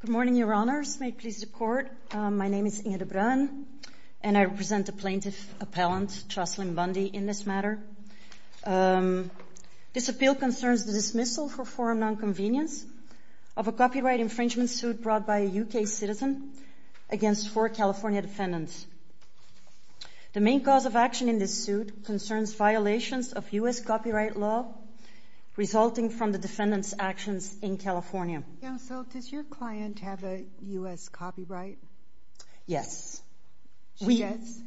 Good morning, Your Honors. May it please the Court, my name is Inge de Bruyn and I represent the plaintiff appellant, Jocelyn Bundy, in this matter. This appeal concerns the dismissal for foreign non-convenience of a copyright infringement suit brought by a U.K. citizen against four California defendants. The main cause of action in this suit concerns violations of U.S. copyright law resulting from the defendants' actions in California. Counsel, does your client have a U.S. copyright? Yes. She does?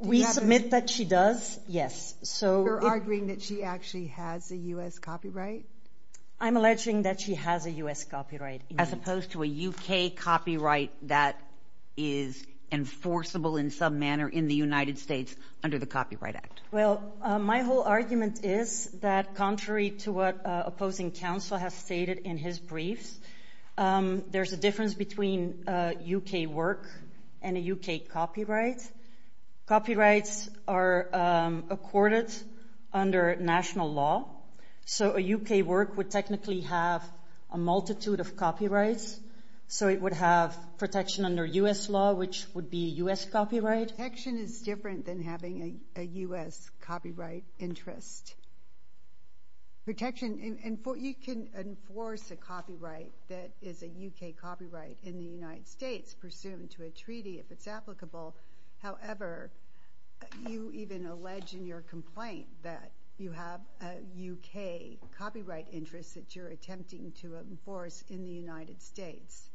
We submit that she does, yes. You're arguing that she actually has a U.S. copyright? I'm alleging that she has a U.S. copyright. As opposed to a U.K. copyright that is enforceable in some manner in the United States under the Copyright Act. Well, my whole argument is that contrary to what opposing counsel has stated in his briefs, there's a difference between U.K. work and a U.K. copyright. Copyrights are accorded under national law, so a U.K. work would technically have a multitude of copyrights, so it would have protection under U.S. law, which would be U.S. copyright. Protection is different than having a U.S. copyright interest. Protection, you can enforce a copyright that is a U.K. copyright in the United States pursuant to a treaty if it's applicable. However, you even allege in your complaint that you have a U.K. copyright interest that you're attempting to enforce in the United States.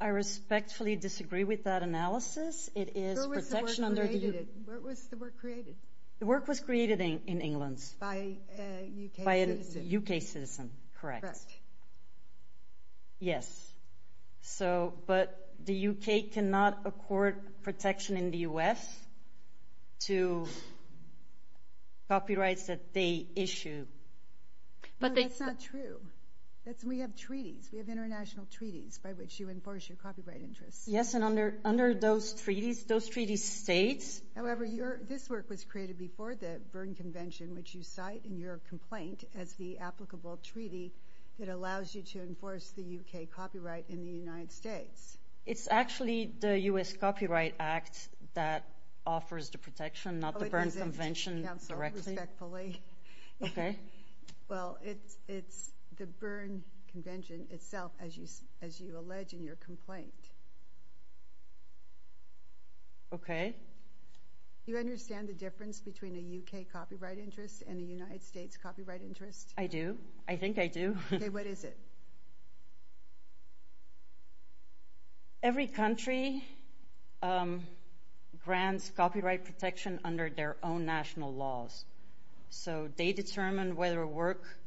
I respectfully disagree with that analysis. It is protection under the U.K. Where was the work created? The work was created in England. By a U.K. citizen. By a U.K. citizen, correct. Correct. Yes, but the U.K. cannot accord protection in the U.S. to copyrights that they issue. No, that's not true. We have treaties. We have international treaties by which you enforce your copyright interests. Yes, and under those treaties, those treaty states... However, this work was created before the Berne Convention, which you cite in your complaint as the applicable treaty that allows you to enforce the U.K. copyright in the United States. It's actually the U.S. Copyright Act that offers the protection, not the Berne Convention directly. Okay. Well, it's the Berne Convention itself, as you allege in your complaint. Okay. Do you understand the difference between a U.K. copyright interest and a United States copyright interest? I do. I think I do. Okay, what is it? Every country grants copyright protection under their own national laws, so they determine whether a work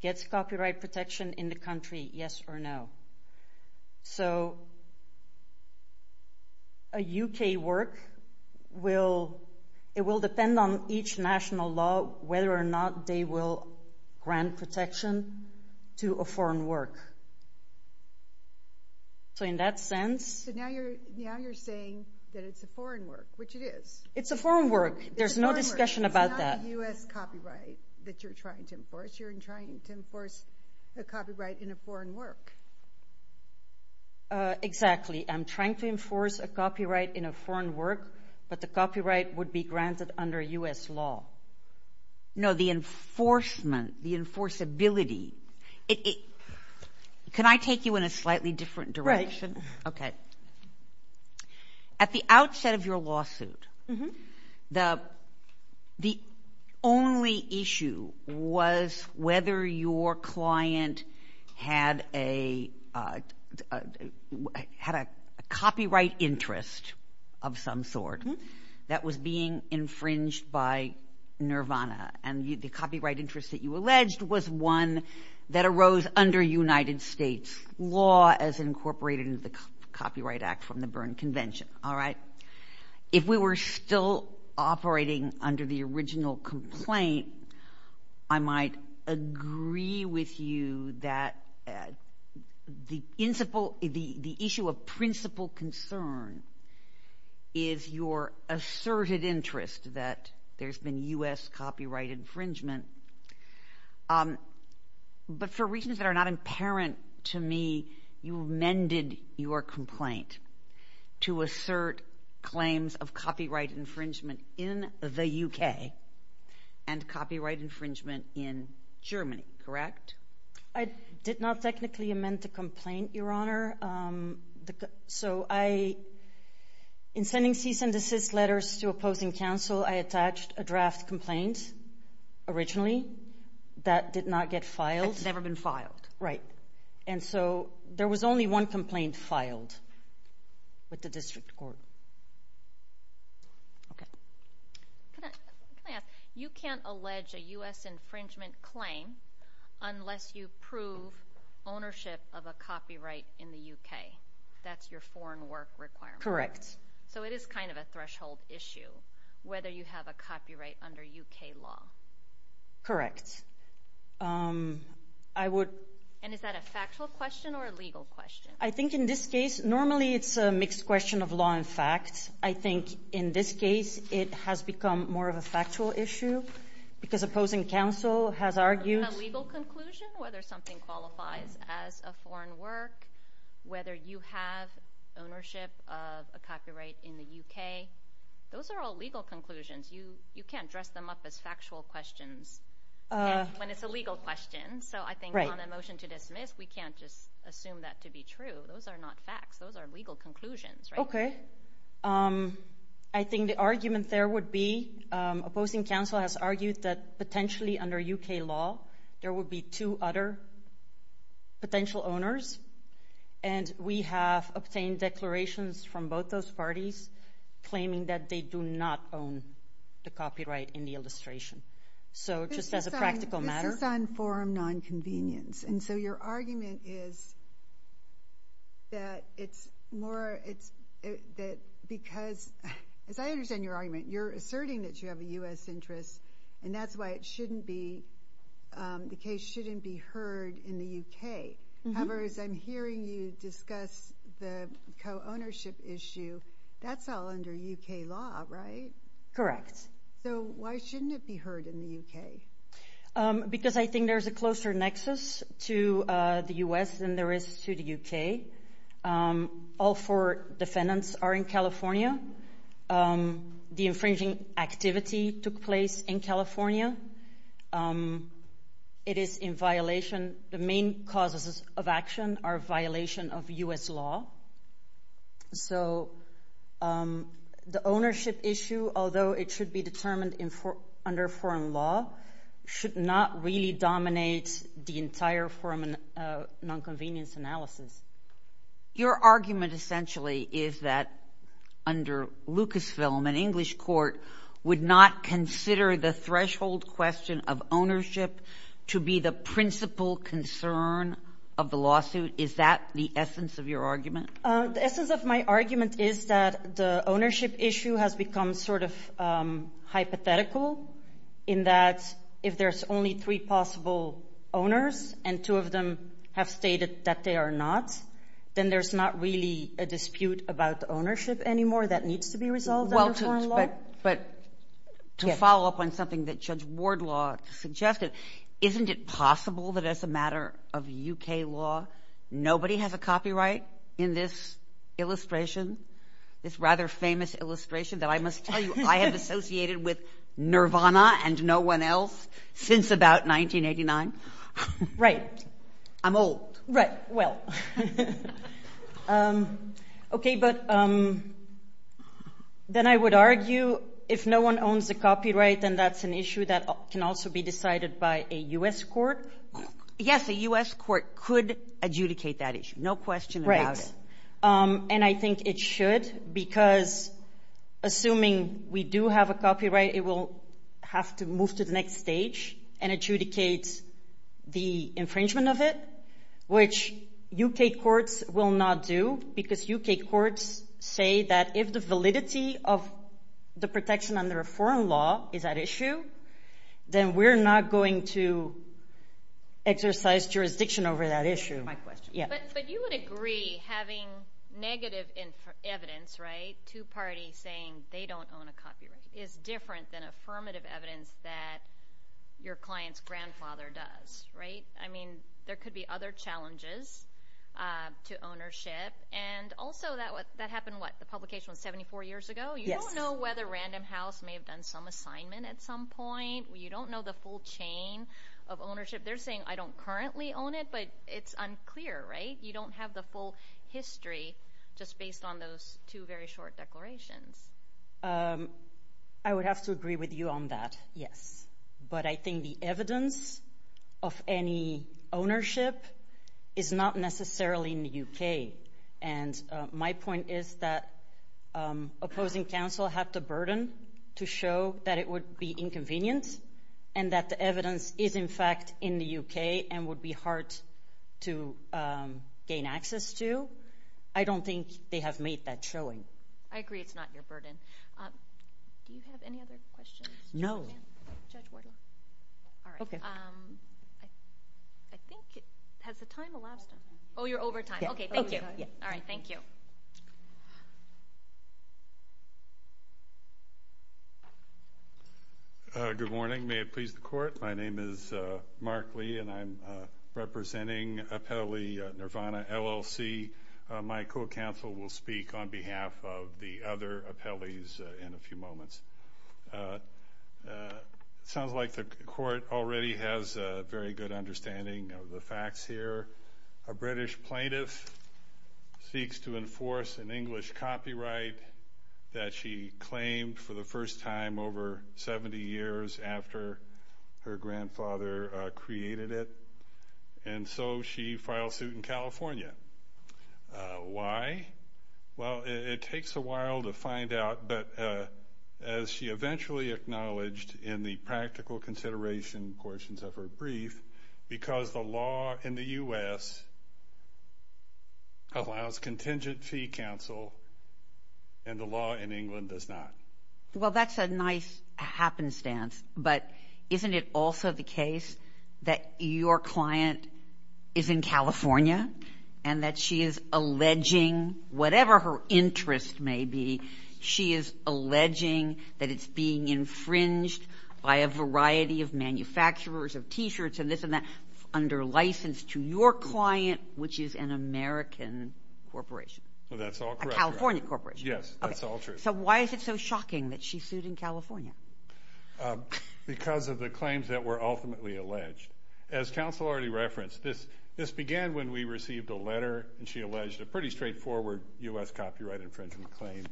gets copyright protection in the country, yes or no. So a U.K. work, it will depend on each national law whether or not they will grant protection to a foreign work. So in that sense... So now you're saying that it's a foreign work, which it is. It's a foreign work. It's a foreign work. There's no discussion about that. It's not a U.S. copyright that you're trying to enforce. You're trying to enforce a copyright in a foreign work. Exactly. I'm trying to enforce a copyright in a foreign work, but the copyright would be granted under U.S. law. No, the enforcement, the enforceability, can I take you in a slightly different direction? Right. Okay. At the outset of your lawsuit, the only issue was whether your client had a copyright interest of some sort that was being infringed by Nirvana. And the copyright interest that you alleged was one that arose under United States law as incorporated into the Copyright Act from the Berne Convention, all right? If we were still operating under the original complaint, I might agree with you that the issue of principal concern is your asserted interest that there's been U.S. copyright infringement. But for reasons that are not apparent to me, you amended your complaint to assert claims of copyright infringement in the U.K. and copyright infringement in Germany, correct? I did not technically amend the complaint, Your Honor. So I, in sending cease and desist letters to opposing counsel, I attached a draft complaint originally that did not get filed. It's never been filed. Right. And so there was only one complaint filed with the district court. Okay. Can I ask? You can't allege a U.S. infringement claim unless you prove ownership of a copyright in the U.K. That's your foreign work requirement. Correct. So it is kind of a threshold issue whether you have a copyright under U.K. law. Correct. I would... And is that a factual question or a legal question? I think in this case, normally it's a mixed question of law and fact. I think in this case, it has become more of a factual issue because opposing counsel has argued... A legal conclusion, whether something qualifies as a foreign work, whether you have ownership of a copyright in the U.K., those are all legal conclusions. You can't dress them up as factual questions when it's a legal question. So I think on a motion to dismiss, we can't just assume that to be true. Those are not facts. Those are legal conclusions, right? Okay. I think the argument there would be opposing counsel has argued that potentially under U.K. law, there would be two other potential owners, and we have obtained declarations from both those parties claiming that they do not own the copyright in the illustration. So just as a practical matter... This is on forum nonconvenience. And so your argument is that it's more that because, as I understand your argument, you're asserting that you have a U.S. interest, and that's why the case shouldn't be heard in the U.K. However, as I'm hearing you discuss the co-ownership issue, that's all under U.K. law, right? Correct. So why shouldn't it be heard in the U.K.? Because I think there's a closer nexus to the U.S. than there is to the U.K. All four defendants are in California. The infringing activity took place in California. It is in violation. The main causes of action are violation of U.S. law. So the ownership issue, although it should be determined under foreign law, should not really dominate the entire forum nonconvenience analysis. Your argument essentially is that under Lucasfilm, an English court, would not consider the threshold question of ownership to be the principal concern of the lawsuit. Is that the essence of your argument? The essence of my argument is that the ownership issue has become sort of hypothetical, in that if there's only three possible owners and two of them have stated that they are not, then there's not really a dispute about ownership anymore that needs to be resolved under foreign law. But to follow up on something that Judge Wardlaw suggested, isn't it possible that as a matter of U.K. law, nobody has a copyright in this illustration, this rather famous illustration that I must tell you I have associated with Nirvana and no one else since about 1989? Right. I'm old. Right, well. Okay, but then I would argue if no one owns the copyright, then that's an issue that can also be decided by a U.S. court. Yes, a U.S. court could adjudicate that issue, no question about it. Right, and I think it should because assuming we do have a copyright, it will have to move to the next stage and adjudicate the infringement of it, which U.K. courts will not do because U.K. courts say that if the validity of the protection under a foreign law is at issue, then we're not going to exercise jurisdiction over that issue. My question. But you would agree having negative evidence, right, two parties saying they don't own a copyright is different than affirmative evidence that your client's grandfather does, right? I mean, there could be other challenges to ownership. And also that happened, what, the publication was 74 years ago? Yes. You don't know whether Random House may have done some assignment at some point. You don't know the full chain of ownership. They're saying I don't currently own it, but it's unclear, right? You don't have the full history just based on those two very short declarations. I would have to agree with you on that, yes. But I think the evidence of any ownership is not necessarily in the U.K. And my point is that opposing counsel have the burden to show that it would be inconvenient and that the evidence is, in fact, in the U.K. and would be hard to gain access to. I don't think they have made that showing. I agree it's not your burden. Do you have any other questions? No. Judge Wardlaw? All right. Okay. I think has the time elapsed on that? Oh, you're over time. Okay, thank you. All right, thank you. Good morning. May it please the Court? My name is Mark Lee, and I'm representing appellee Nirvana LLC. My co-counsel will speak on behalf of the other appellees in a few moments. It sounds like the Court already has a very good understanding of the facts here. A British plaintiff seeks to enforce an English copyright that she claimed for the first time over 70 years after her grandfather created it, and so she files suit in California. Why? Well, it takes a while to find out, but as she eventually acknowledged in the practical consideration portions of her brief, because the law in the U.S. allows contingent fee counsel and the law in England does not. Well, that's a nice happenstance, but isn't it also the case that your client is in California and that she is alleging, whatever her interest may be, she is alleging that it's being infringed by a variety of manufacturers of T-shirts and this and that under license to your client, which is an American corporation. Well, that's all correct. A California corporation. Yes, that's all true. So why is it so shocking that she sued in California? Because of the claims that were ultimately alleged. As counsel already referenced, this began when we received a letter and she alleged a pretty straightforward U.S. copyright infringement claim.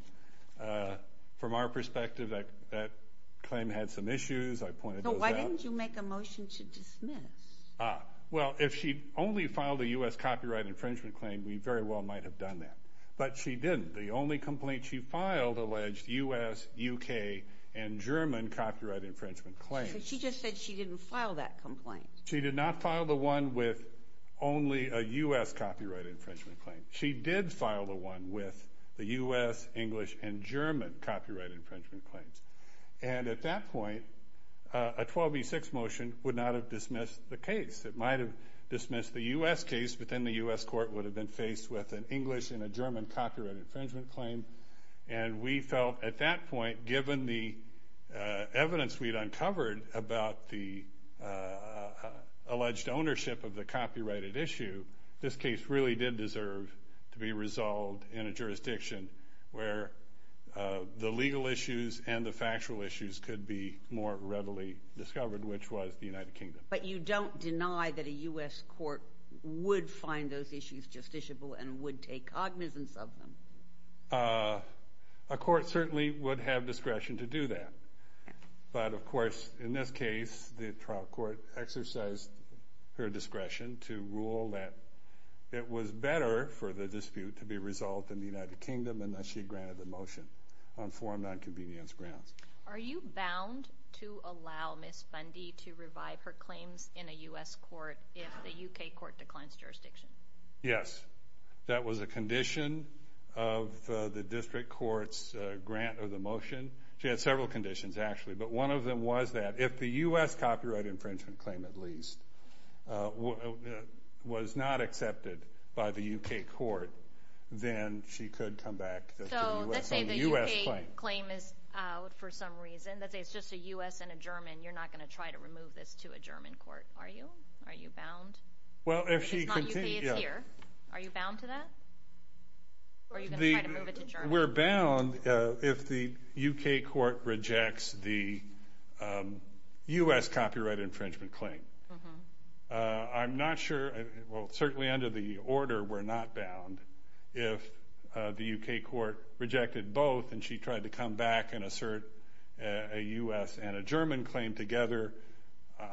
From our perspective, that claim had some issues. I pointed those out. So why didn't you make a motion to dismiss? Well, if she only filed a U.S. copyright infringement claim, we very well might have done that. But she didn't. The only complaint she filed alleged U.S., U.K., and German copyright infringement claims. She just said she didn't file that complaint. She did not file the one with only a U.S. copyright infringement claim. She did file the one with the U.S., English, and German copyright infringement claims. And at that point, a 12v6 motion would not have dismissed the case. It might have dismissed the U.S. case, but then the U.S. court would have been faced with an English and a German copyright infringement claim. And we felt at that point, given the evidence we'd uncovered about the alleged ownership of the copyrighted issue, this case really did deserve to be resolved in a jurisdiction where the legal issues and the factual issues could be more readily discovered, which was the United Kingdom. But you don't deny that a U.S. court would find those issues justiciable and would take cognizance of them? A court certainly would have discretion to do that. But, of course, in this case, the trial court exercised her discretion to rule that it was better for the dispute to be resolved in the United Kingdom and that she granted the motion on four nonconvenience grounds. Are you bound to allow Ms. Bundy to revive her claims in a U.S. court if the U.K. court declines jurisdiction? Yes. That was a condition of the district court's grant of the motion. She had several conditions, actually. But one of them was that if the U.S. copyright infringement claim at least was not accepted by the U.K. court, then she could come back to the U.S. claim. So let's say the U.K. claim is out for some reason. Let's say it's just a U.S. and a German. You're not going to try to remove this to a German court, are you? Are you bound? If the U.K. is here, are you bound to that? Or are you going to try to move it to German? We're bound if the U.K. court rejects the U.S. copyright infringement claim. I'm not sure, well, certainly under the order, we're not bound. If the U.K. court rejected both and she tried to come back and assert a U.S. and a German claim together,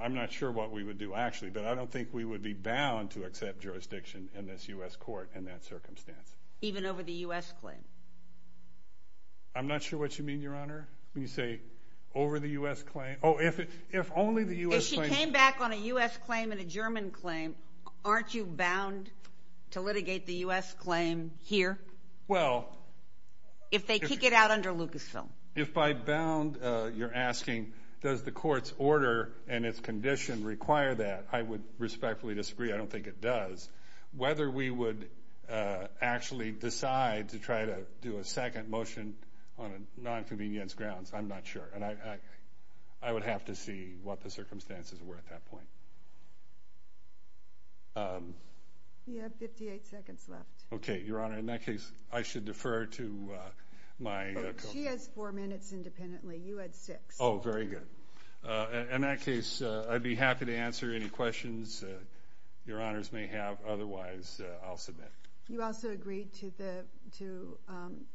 I'm not sure what we would do, actually. But I don't think we would be bound to accept jurisdiction in this U.S. court in that circumstance. Even over the U.S. claim? I'm not sure what you mean, Your Honor. When you say over the U.S. claim. Oh, if only the U.S. claim. If she came back on a U.S. claim and a German claim, aren't you bound to litigate the U.S. claim here? Well. If they kick it out under Lucasfilm. If by bound, you're asking does the court's order and its condition require that, I would respectfully disagree. I don't think it does. Whether we would actually decide to try to do a second motion on a nonconvenience grounds, I'm not sure. And I would have to see what the circumstances were at that point. You have 58 seconds left. Okay, Your Honor. In that case, I should defer to my. She has four minutes independently. You had six. Oh, very good. In that case, I'd be happy to answer any questions Your Honors may have. Otherwise, I'll submit. You also agreed to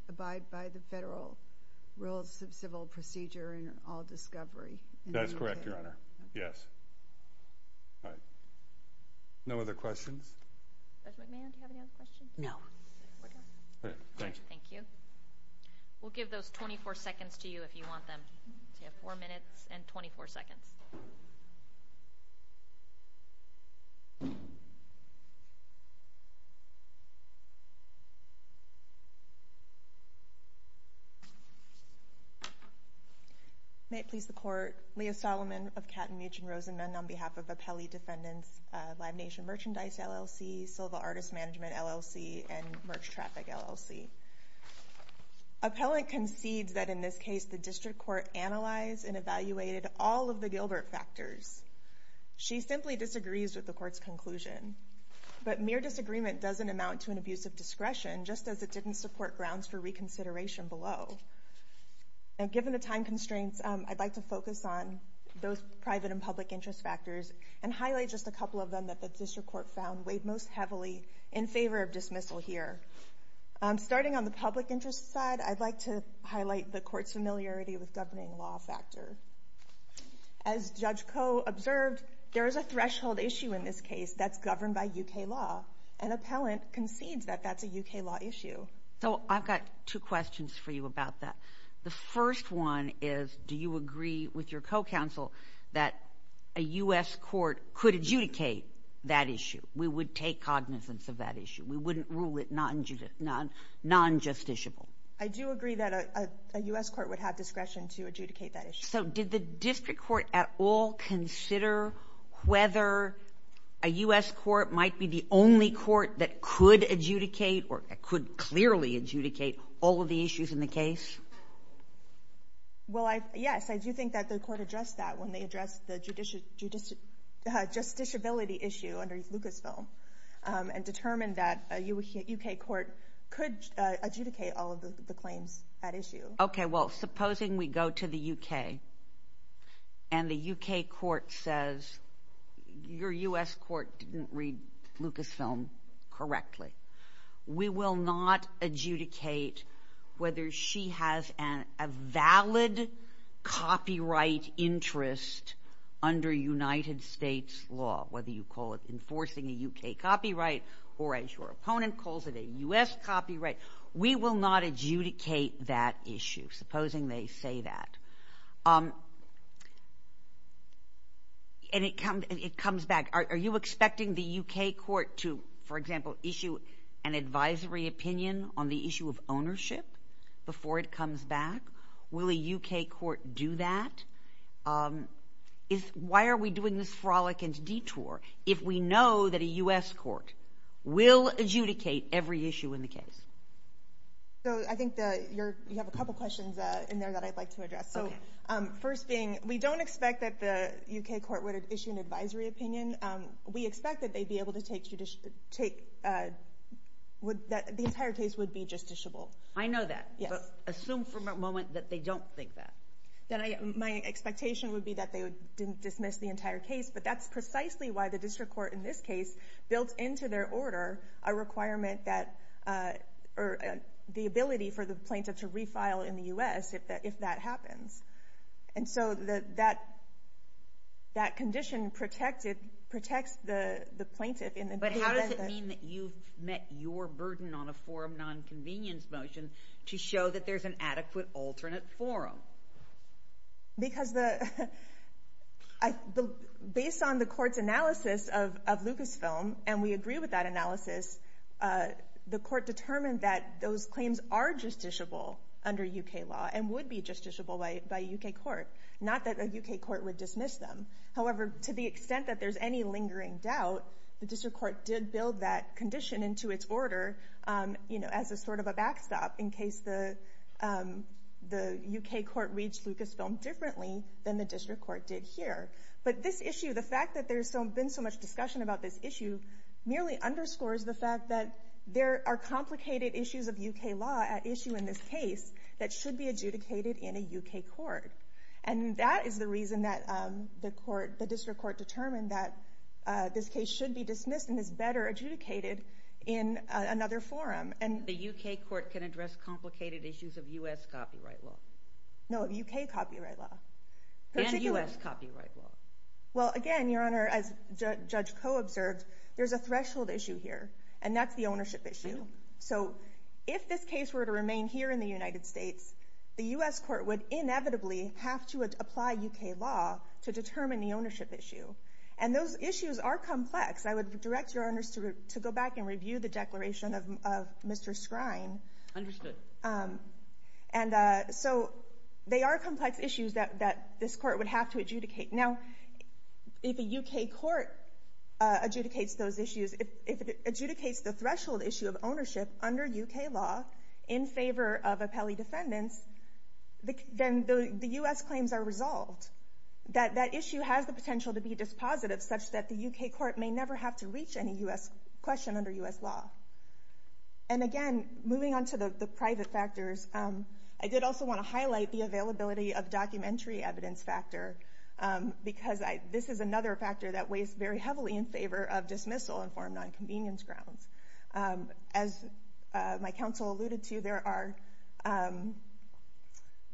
abide by the federal rules of civil procedure in all discovery. That's correct, Your Honor. Yes. All right. No other questions? Judge McMahon, do you have any other questions? No. We're done. Thank you. We'll give those 24 seconds to you if you want them. You have four minutes and 24 seconds. May it please the Court. Leah Solomon of Katten, Meech, and Rosenman on behalf of Appelli Defendants, Live Nation Merchandise LLC, Silva Artist Management LLC, and Merch Traffic LLC. Appellant concedes that in this case, the district court analyzed and evaluated all of the Gilbert factors. She simply disagrees with the court's conclusion. But mere disagreement doesn't amount to an abuse of discretion, just as it didn't support grounds for reconsideration below. And given the time constraints, I'd like to focus on those private and public interest factors and highlight just a couple of them that the district court found weighed most heavily in favor of dismissal here. Starting on the public interest side, I'd like to highlight the court's familiarity with governing law factor. As Judge Koh observed, there is a threshold issue in this case that's governed by U.K. law, and appellant concedes that that's a U.K. law issue. So I've got two questions for you about that. The first one is, do you agree with your co-counsel that a U.S. court could adjudicate that issue? We would take cognizance of that issue. We wouldn't rule it non-justiciable. I do agree that a U.S. court would have discretion to adjudicate that issue. So did the district court at all consider whether a U.S. court might be the only court that could adjudicate or could clearly adjudicate all of the issues in the case? Well, yes, I do think that the court addressed that when they addressed the justiciability issue under Lucasfilm and determined that a U.K. court could adjudicate all of the claims at issue. Okay, well, supposing we go to the U.K. and the U.K. court says, your U.S. court didn't read Lucasfilm correctly, we will not adjudicate whether she has a valid copyright interest under United States law, whether you call it enforcing a U.K. copyright or, as your opponent calls it, a U.S. copyright. We will not adjudicate that issue, supposing they say that. And it comes back, are you expecting the U.K. court to, for example, issue an advisory opinion on the issue of ownership before it comes back? Will a U.K. court do that? Why are we doing this frolic and detour if we know that a U.S. court will adjudicate every issue in the case? I think you have a couple questions in there that I'd like to address. First being, we don't expect that the U.K. court would issue an advisory opinion. We expect that they'd be able to take the entire case would be justiciable. I know that, but assume for a moment that they don't think that. My expectation would be that they didn't dismiss the entire case, but that's precisely why the district court in this case built into their order a requirement that the ability for the plaintiff to refile in the U.S. if that happens. And so that condition protects the plaintiff. But how does it mean that you've met your burden on a forum nonconvenience motion to show that there's an adequate alternate forum? Because based on the court's analysis of Lucasfilm, and we agree with that analysis, the court determined that those claims are justiciable under U.K. law and would be justiciable by a U.K. court, not that a U.K. court would dismiss them. However, to the extent that there's any lingering doubt, the district court did build that condition into its order as a sort of a backstop in case the U.K. court reached Lucasfilm differently than the district court did here. But this issue, the fact that there's been so much discussion about this issue, merely underscores the fact that there are complicated issues of U.K. law at issue in this case that should be adjudicated in a U.K. court. And that is the reason that the district court determined that this case should be dismissed and is better adjudicated in another forum. The U.K. court can address complicated issues of U.S. copyright law? No, of U.K. copyright law. And U.S. copyright law? Well, again, Your Honor, as Judge Koh observed, there's a threshold issue here, and that's the ownership issue. So if this case were to remain here in the United States, the U.S. court would inevitably have to apply U.K. law to determine the ownership issue. And those issues are complex. I would direct Your Honors to go back and review the declaration of Mr. Skrine. Understood. And so they are complex issues that this court would have to adjudicate. Now, if a U.K. court adjudicates those issues, if it adjudicates the threshold issue of ownership under U.K. law in favor of appellee defendants, then the U.S. claims are resolved. That issue has the potential to be dispositive, such that the U.K. court may never have to reach any U.S. question under U.S. law. And again, moving on to the private factors, I did also want to highlight the availability of documentary evidence factor, because this is another factor that weighs very heavily in favor of dismissal in foreign nonconvenience grounds. As my counsel alluded to, there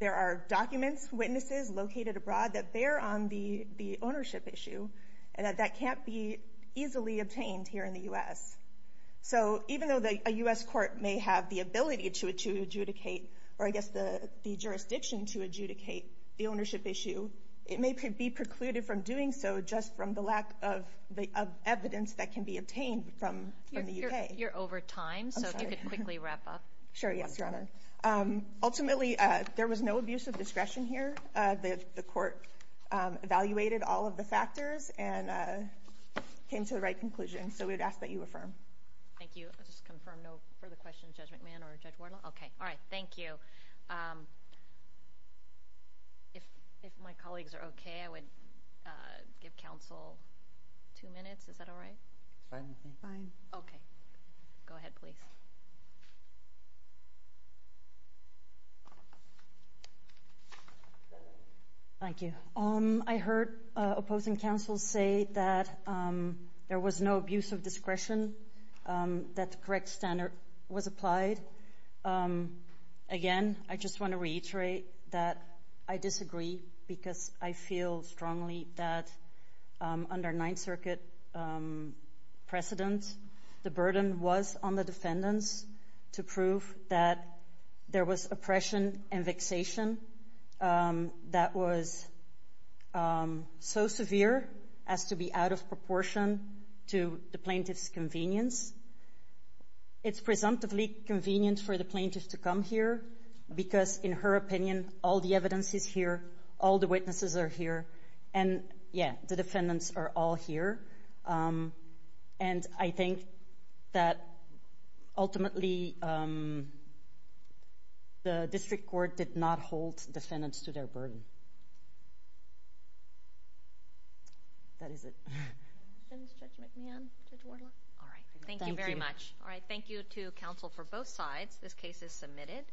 are documents, witnesses located abroad that bear on the ownership issue and that that can't be easily obtained here in the U.S. So even though a U.S. court may have the ability to adjudicate, or I guess the jurisdiction to adjudicate the ownership issue, it may be precluded from doing so just from the lack of evidence that can be obtained from the U.K. You're over time. I'm sorry. So if you could quickly wrap up. Sure, yes, Your Honor. Ultimately, there was no abuse of discretion here. The court evaluated all of the factors and came to the right conclusion. So we would ask that you affirm. Thank you. I'll just confirm no further questions, Judge McMahon or Judge Wardle. Okay. All right. Thank you. If my colleagues are okay, I would give counsel two minutes. Is that all right? Fine. Okay. Go ahead, please. Thank you. I heard opposing counsel say that there was no abuse of discretion, that the correct standard was applied. Again, I just want to reiterate that I disagree because I feel strongly that under Ninth Circuit precedent, the burden was on the defendants to prove that there was oppression and vexation that was so severe as to be out of proportion to the plaintiff's convenience. It's presumptively convenient for the plaintiff to come here because, in her opinion, all the evidence is here, all the witnesses are here, and, yeah, the defendants are all here. And I think that ultimately the district court did not hold defendants to their burden. That is it. Questions, Judge McMahon, Judge Wardle? All right. Thank you very much. All right. Thank you to counsel for both sides. This case is submitted.